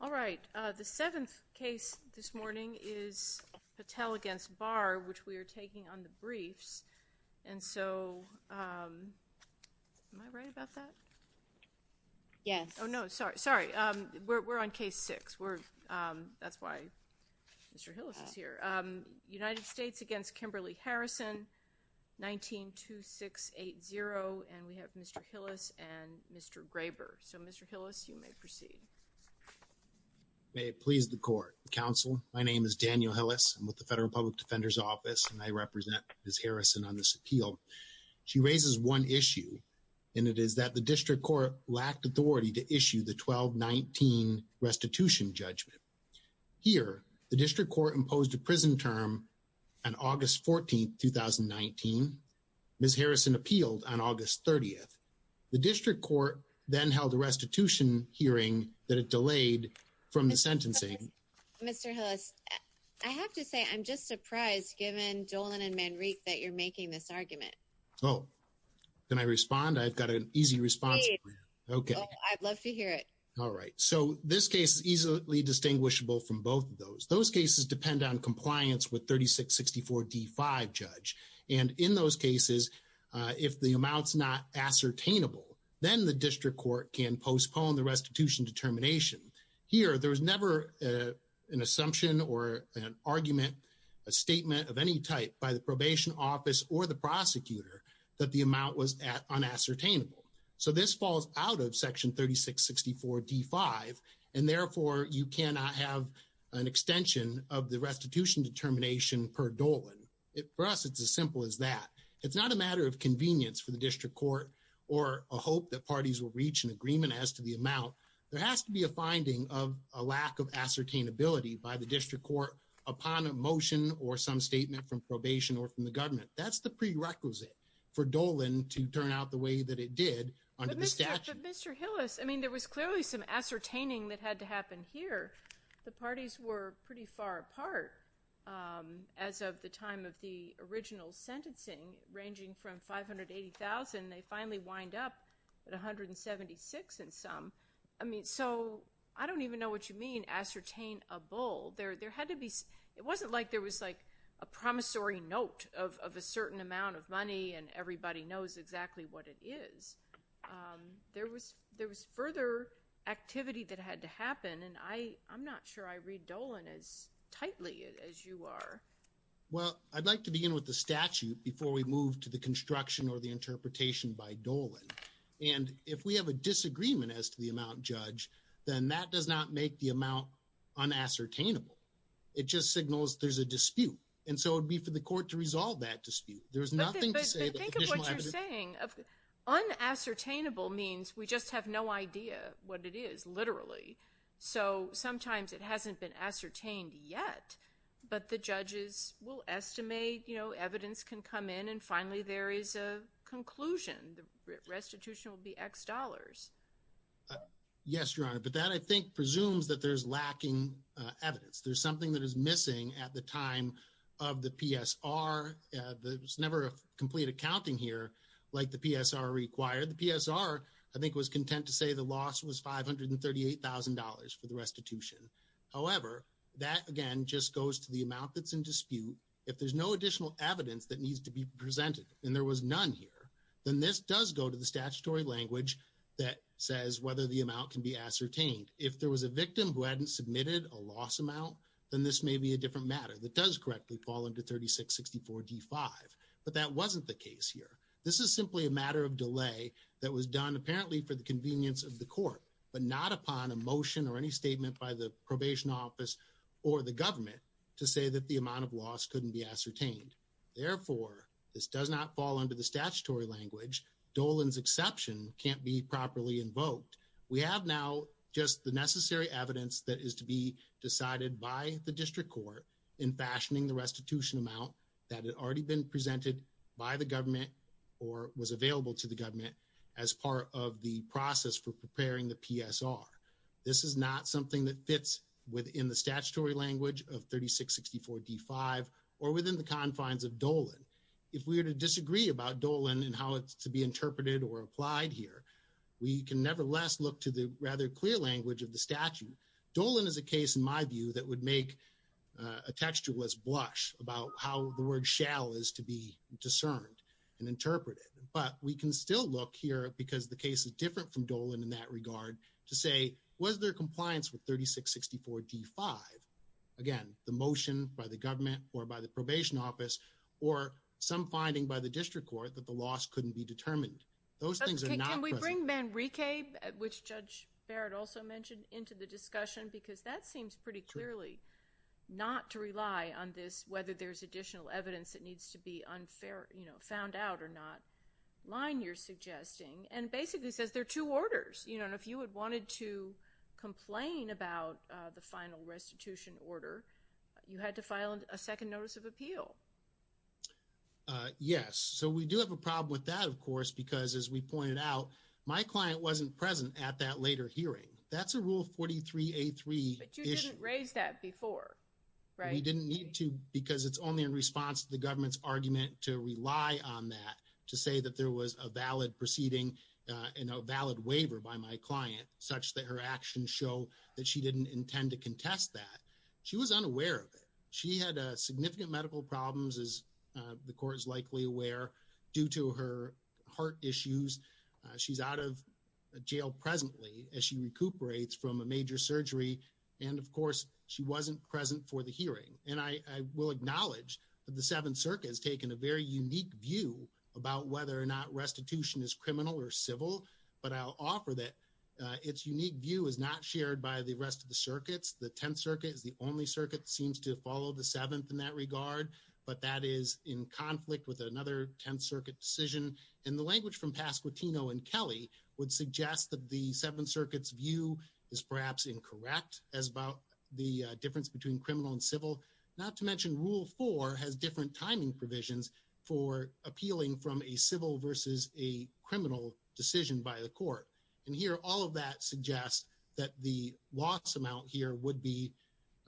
All right. The seventh case this morning is Patel against Barr which we are taking on the briefs. And so, am I right about that? Yes. Oh no, sorry, sorry. We're on case six. We're, that's why Mr. Hillis is here. United States against Kimberly Harrison, 19-2-6-8-0. And we have Mr. Hillis and Mr. Graber. So Mr. Hillis, you may proceed. May it please the court. Counsel, my name is Daniel Hillis. I'm with the Federal Public Defender's Office and I represent Ms. Harrison on this appeal. She raises one issue and it is that the district court lacked authority to issue the 12-19 restitution judgment. Here, the district court imposed a prison term on August 14, 2019. Ms. Harrison appealed on August 30th. The hearing that it delayed from the sentencing. Mr. Hillis, I have to say I'm just surprised given Dolan and Manrique that you're making this argument. Oh, can I respond? I've got an easy response for you. Okay. I'd love to hear it. All right. So, this case is easily distinguishable from both of those. Those cases depend on compliance with 36-64-D-5, Judge. And in those cases, if the amount's not ascertainable, then the district court can postpone the restitution determination. Here, there was never an assumption or an argument, a statement of any type by the probation office or the prosecutor that the amount was unascertainable. So, this falls out of section 36-64-D-5 and therefore you cannot have an extension of the restitution determination per Dolan. For us, it's as simple as that. It's not a matter of convenience for the district court or a hope that parties will reach an agreement as to the amount. There has to be a finding of a lack of ascertainability by the district court upon a motion or some statement from probation or from the government. That's the prerequisite for Dolan to turn out the way that it did under the statute. But, Mr. Hillis, I mean there was clearly some ascertaining that had to happen here. The parties were pretty far apart as of the time of the original sentencing, ranging from 580,000, they finally wind up at 176,000 and some. I mean, so I don't even know what you mean, ascertainable. There had to be, it wasn't like there was like a promissory note of a certain amount of money and everybody knows exactly what it is. There was further activity that had to happen and I'm not sure I read Dolan as tightly as you are. Well, I'd like to begin with the construction or the interpretation by Dolan and if we have a disagreement as to the amount, Judge, then that does not make the amount unascertainable. It just signals there's a dispute and so it would be for the court to resolve that dispute. There's nothing to say. But think of what you're saying. Unascertainable means we just have no idea what it is, literally. So sometimes it hasn't been ascertained yet, but the judges will there is a conclusion. The restitution will be X dollars. Yes, Your Honor, but that I think presumes that there's lacking evidence. There's something that is missing at the time of the PSR. There's never a complete accounting here like the PSR required. The PSR, I think, was content to say the loss was $538,000 for the restitution. However, that again just goes to the amount that's in dispute. If there's no additional evidence that needs to be presented and there was none here, then this does go to the statutory language that says whether the amount can be ascertained. If there was a victim who hadn't submitted a loss amount, then this may be a different matter that does correctly fall into 3664 D5. But that wasn't the case here. This is simply a matter of delay that was done apparently for the convenience of the court, but not upon a motion or any statement by the probation office or the government to say that the amount of loss couldn't be ascertained. Therefore, this does not fall under the statutory language. Dolan's exception can't be properly invoked. We have now just the necessary evidence that is to be decided by the district court in fashioning the restitution amount that had already been presented by the government or was available to the government as part of the process for preparing the PSR. This is not something that fits within the statutory language of 3664 D5 or within the confines of Dolan. If we were to disagree about Dolan and how it's to be interpreted or applied here, we can nevertheless look to the rather clear language of the statute. Dolan is a case in my view that would make a textualist blush about how the word shall is to be discerned and interpreted. But we can still look here because the case is different from Dolan in that compliance with 3664 D5, again the motion by the government or by the probation office or some finding by the district court that the loss couldn't be determined. Those things are not present. Can we bring Manrique, which Judge Barrett also mentioned, into the discussion because that seems pretty clearly not to rely on this whether there's additional evidence that needs to be unfair, you know, found out or not line you're suggesting and basically says there are two orders, you know, and if you had wanted to complain about the final restitution order, you had to file a second notice of appeal. Yes, so we do have a problem with that, of course, because as we pointed out, my client wasn't present at that later hearing. That's a Rule 43A3 issue. But you didn't raise that before, right? We didn't need to because it's only in response to the government's argument to rely on that to say that there was a valid proceeding and a valid waiver by my client such that her actions show that she didn't intend to contest that. She was unaware of it. She had significant medical problems, as the court is likely aware, due to her heart issues. She's out of jail presently as she recuperates from a major surgery and, of course, she wasn't present for the hearing. And I will acknowledge that the restitution is criminal or civil, but I'll offer that its unique view is not shared by the rest of the circuits. The Tenth Circuit is the only circuit that seems to follow the Seventh in that regard, but that is in conflict with another Tenth Circuit decision. And the language from Pasquitino and Kelly would suggest that the Seventh Circuit's view is perhaps incorrect as about the difference between criminal and civil, not to mention Rule 4 has different timing provisions for appealing from a civil versus a criminal decision by the court. And here, all of that suggests that the loss amount here would be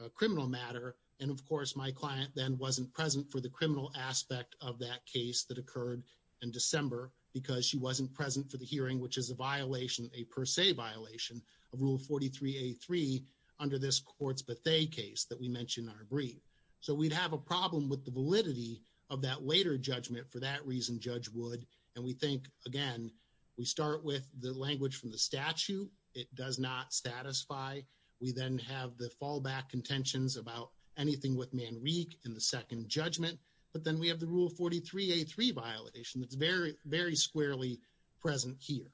a criminal matter. And, of course, my client then wasn't present for the criminal aspect of that case that occurred in December because she wasn't present for the hearing, which is a violation, a per se violation of Rule 43A3 under this court's Bethea case that we mentioned in our brief. So we'd have a problem with the validity of that later judgment for that reason, Judge Wood, and we think, again, we start with the language from the statute. It does not satisfy. We then have the fallback contentions about anything with Manrique in the second judgment, but then we have the Rule 43A3 violation that's very, very squarely present here.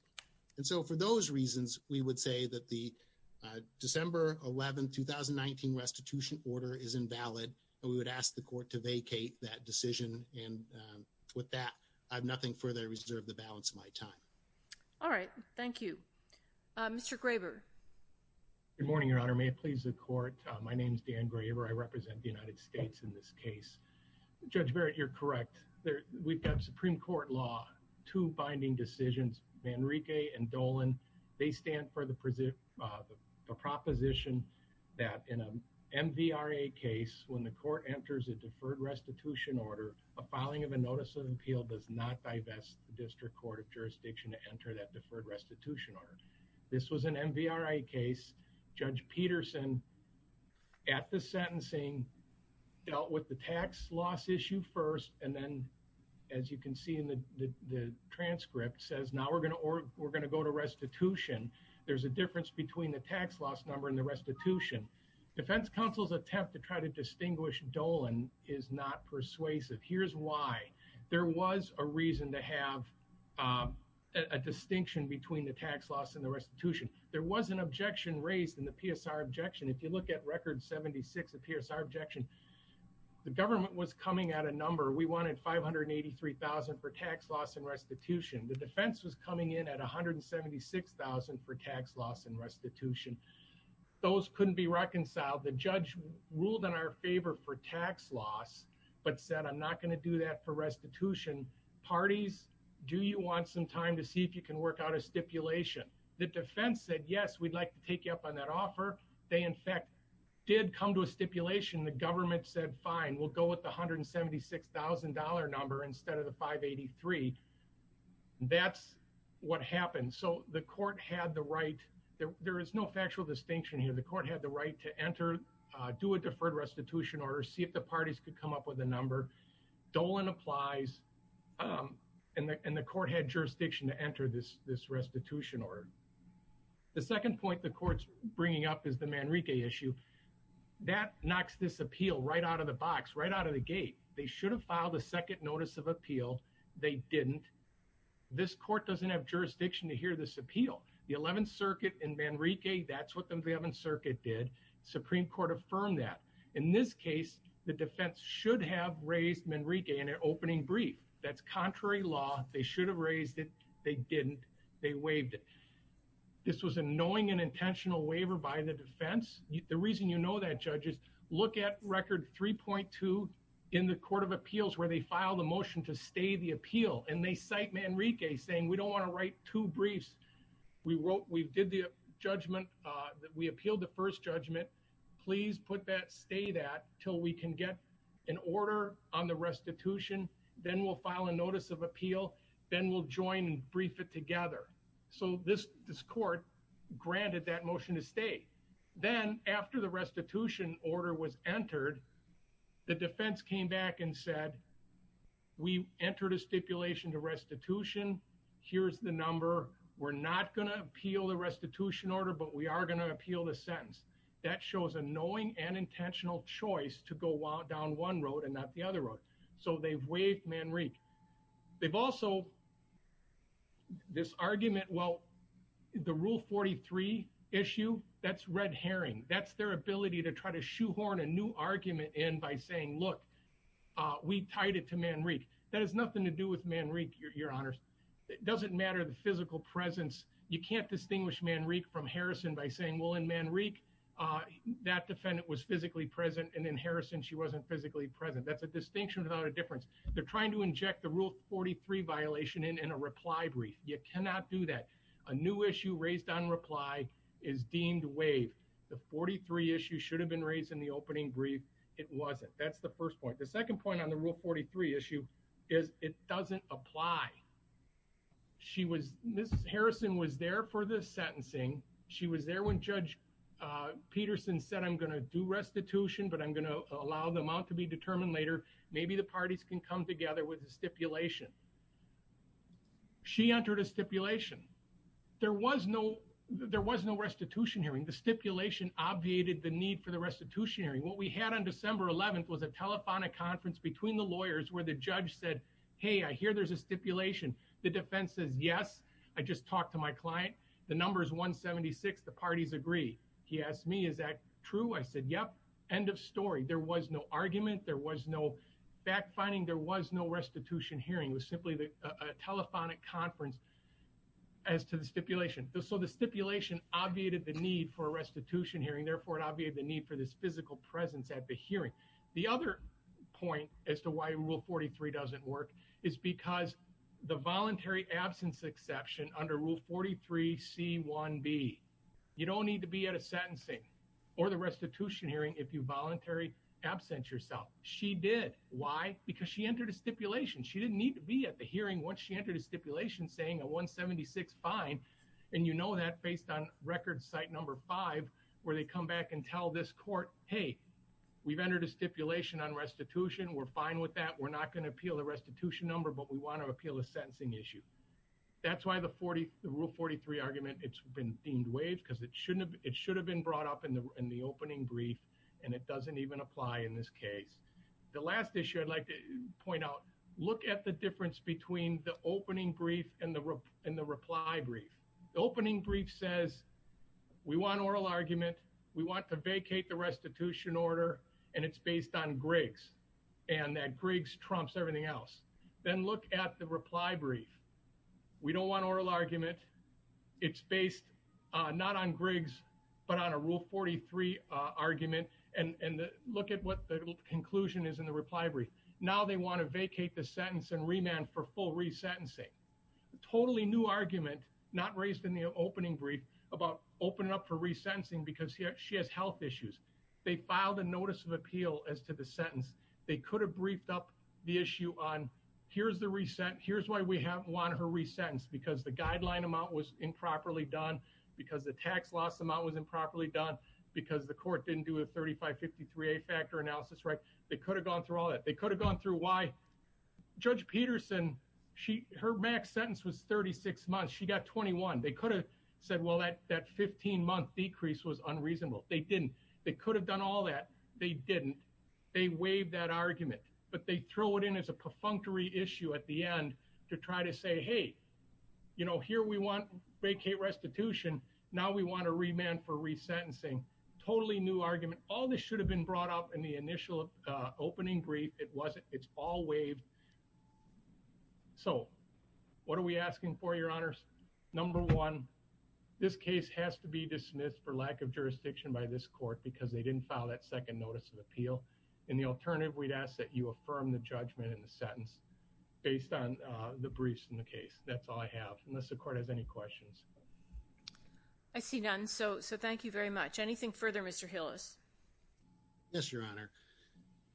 And so for those reasons, we would say that the December 11, 2019 restitution order is invalid, and we would ask the court to vacate that decision. And with that, I have nothing further to reserve the balance of my time. All right. Thank you. Mr. Graber. Good morning, Your Honor. May it please the court. My name is Dan Graber. I represent the United States in this case. Judge Barrett, you're correct. We've got Supreme Court law, two binding decisions, Manrique and Dolan. They stand for the proposition that in a MVRA case, when the court enters a deferred restitution order, a filing of a notice of appeal does not divest the District Court of Jurisdiction to enter that deferred restitution order. This was an MVRA case. Judge Peterson, at the sentencing, dealt with the tax loss issue first, and then, as you can see in the transcript, says now we're going to go to restitution. There's a counsel's attempt to try to distinguish Dolan is not persuasive. Here's why. There was a reason to have a distinction between the tax loss and the restitution. There was an objection raised in the PSR objection. If you look at Record 76 of PSR objection, the government was coming at a number. We wanted $583,000 for tax loss and restitution. The defense was coming in at $176,000 for tax loss and the judge ruled in our favor for tax loss, but said I'm not going to do that for restitution. Parties, do you want some time to see if you can work out a stipulation? The defense said, yes, we'd like to take you up on that offer. They, in fact, did come to a stipulation. The government said, fine, we'll go with the $176,000 number instead of the $583,000. That's what happened. So the court had the right, there is no factual distinction here, the court had the right to enter, do a deferred restitution order, see if the parties could come up with a number. Dolan applies and the court had jurisdiction to enter this restitution order. The second point the court's bringing up is the Manrique issue. That knocks this appeal right out of the box, right out of the gate. They should have filed a second notice of appeal. They didn't. This court doesn't have jurisdiction to hear this appeal. The 11th Circuit in Manrique, that's what the 11th Circuit did. Supreme Court affirmed that. In this case, the defense should have raised Manrique in an opening brief. That's contrary law. They should have raised it. They didn't. They waived it. This was a knowing and intentional waiver by the defense. The reason you know that, judges, look at Record 3.2 in the Court of Appeals where they file the motion to stay the appeal and they cite Manrique saying, we don't want to write two briefs. We wrote, we appealed the first judgment. Please put that, stay that, until we can get an order on the restitution. Then we'll file a notice of appeal. Then we'll join and brief it together. So this court granted that motion to stay. Then after the restitution order was entered, the defense came back and said, we entered a stipulation to restitution. Here's the number. We're not going to appeal the sentence. That shows a knowing and intentional choice to go down one road and not the other road. So they've waived Manrique. They've also, this argument, well, the Rule 43 issue, that's red herring. That's their ability to try to shoehorn a new argument in by saying, look, we tied it to Manrique. That has nothing to do with Manrique, Your Honors. It doesn't matter the physical presence. You can't distinguish Manrique from Harrison by saying, well, in Manrique, uh, that defendant was physically present and in Harrison she wasn't physically present. That's a distinction without a difference. They're trying to inject the Rule 43 violation in a reply brief. You cannot do that. A new issue raised on reply is deemed waived. The 43 issue should have been raised in the opening brief. It wasn't. That's the first point. The second point on the Rule 43 issue is it doesn't apply. She was, Ms. Harrison was there for the sentencing. She was there when Judge Peterson said, I'm going to do restitution, but I'm going to allow them out to be determined later. Maybe the parties can come together with the stipulation. She entered a stipulation. There was no, there was no restitution hearing. The stipulation obviated the need for the restitution hearing. What we had on December 11th was a telephonic conference between the lawyers where the judge said, Hey, I hear there's a stipulation. The defense says, yes, I just talked to my client. The number is 1 76. The parties agree. He asked me, is that true? I said, yep. End of story. There was no argument. There was no backfinding. There was no restitution hearing was simply a telephonic conference as to the stipulation. So the stipulation obviated the need for restitution hearing. Therefore, it obviated the need for this physical presence at the hearing. The other point as to why rule 43 doesn't work is because the voluntary absence exception under rule 43 C one B. You don't need to be at a sentencing or the restitution hearing if you voluntary absent yourself. She did. Why? Because she entered a stipulation. She didn't need to be at the hearing once she entered a stipulation saying a 1 76 fine. And you know that based on record site number five where they come back and tell this court. Hey, we've entered a stipulation on restitution. We're fine with that. We're not gonna appeal the restitution number, but we want to appeal a sentencing issue. That's why the 40 rule 43 argument it's been deemed wave because it shouldn't have. It should have been brought up in the in the opening brief, and it doesn't even apply in this case. The last issue I'd like to point out. Look at the difference between the opening brief and the in the reply brief. Opening brief says we want oral argument. We want to vacate the restitution order, and it's based on Griggs and that Griggs trumps everything else. Then look at the reply brief. We don't want oral argument. It's based not on Griggs, but on a rule 43 argument and look at what the conclusion is in the reply brief. Now they want to vacate the sentence and remand for full resentencing. Totally new argument not raised in the opening brief about opening up for resentencing because she has health issues. They filed a notice of appeal as to the sentence. They could have briefed up the issue on. Here's the reset. Here's why we have one of her resentence because the guideline amount was improperly done because the tax loss amount was improperly done because the court didn't do a 35 53 a factor analysis, right? They could have gone through all that they could have gone through. Why? Judge Peterson. She her max sentence was 36 months. She got 21. They could have said, Well, that that 15 month decrease was unreasonable. They didn't. They could have done all that. They didn't. They waived that argument, but they throw it in as a perfunctory issue at the end to try to say, Hey, you know, here we want vacate restitution. Now we want to remand for resentencing. Totally new argument. All this should have been brought up in the initial opening brief. It wasn't. It's all waived. So what are we asking for? Your honor's number one. This case has to be dismissed for lack of jurisdiction by this court because they didn't file that second notice of appeal. In the alternative, we'd ask that you affirm the judgment in the sentence based on the briefs in the case. That's all I have. Unless the court has any questions, I see none. So So thank you very much. Anything further, Mr Hill is Yes, your honor.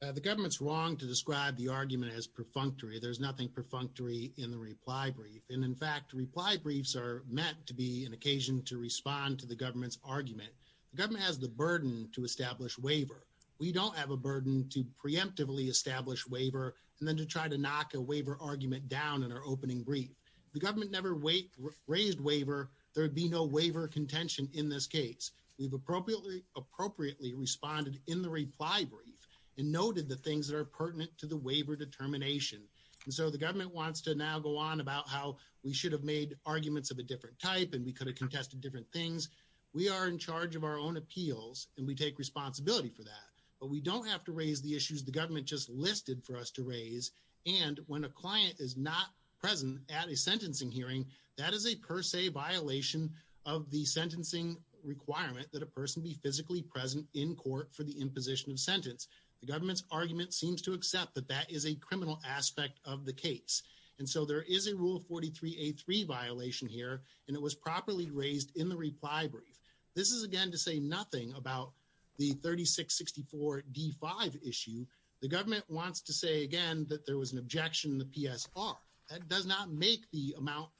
The government's wrong to describe the argument as perfunctory. There's nothing perfunctory in the reply brief. And in fact, reply briefs are meant to be an occasion to respond to the government's argument. The government has the burden to establish waiver. We don't have a burden to preemptively establish waiver and then to try to knock a waiver argument down in our opening brief. The government never wait raised waiver. There would be no waiver contention in this case. We've appropriately appropriately responded in the reply brief and noted the things that are pertinent to the waiver determination. And so the government wants to now go on about how we should have made arguments of a different type, and we could have contested different things. We are in charge of our own appeals, and we take responsibility for that. But we don't have to raise the issues the government just listed for us to raise. And when a client is not present at a sentencing hearing, that is a per se violation of the sentencing requirement that a person be physically present in court for the imposition of sentence. The government's argument seems to accept that that is a criminal aspect of the case. And so there is a rule 43 a three violation here, and it was properly raised in the reply brief. This is again to say nothing about the 36 64 D five issue. The government wants to say again that there was an objection. The PS are that does not make the amount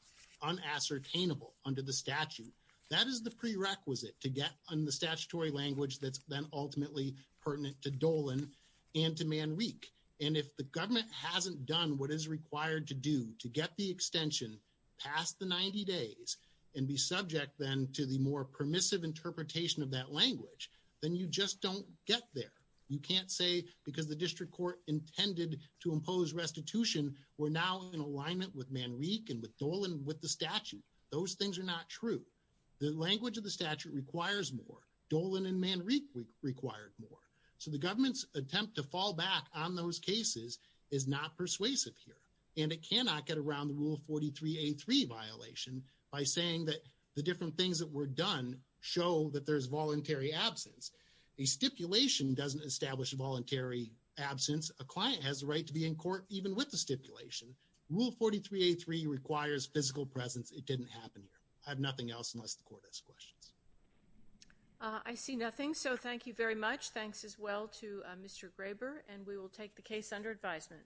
unassertainable under the statute. That is the prerequisite to get on the statutory language that's then ultimately pertinent to Dolan and to man week. And if the government hasn't done what is required to do to get the extension past the 90 days and be subject then to the more permissive interpretation of that language, then you just don't get there. You can't say because the district court intended to impose restitution. We're now in it with man week and with Dolan with the statute. Those things are not true. The language of the statute requires more Dolan and man re required more. So the government's attempt to fall back on those cases is not persuasive here, and it cannot get around the rule 43 a three violation by saying that the different things that were done show that there's voluntary absence. A stipulation doesn't establish a voluntary absence. A client has the in court. Even with the stipulation rule 43 a three requires physical presence. It didn't happen here. I have nothing else unless the court has questions. I see nothing. So thank you very much. Thanks as well to Mr Graber, and we will take the case under advisement.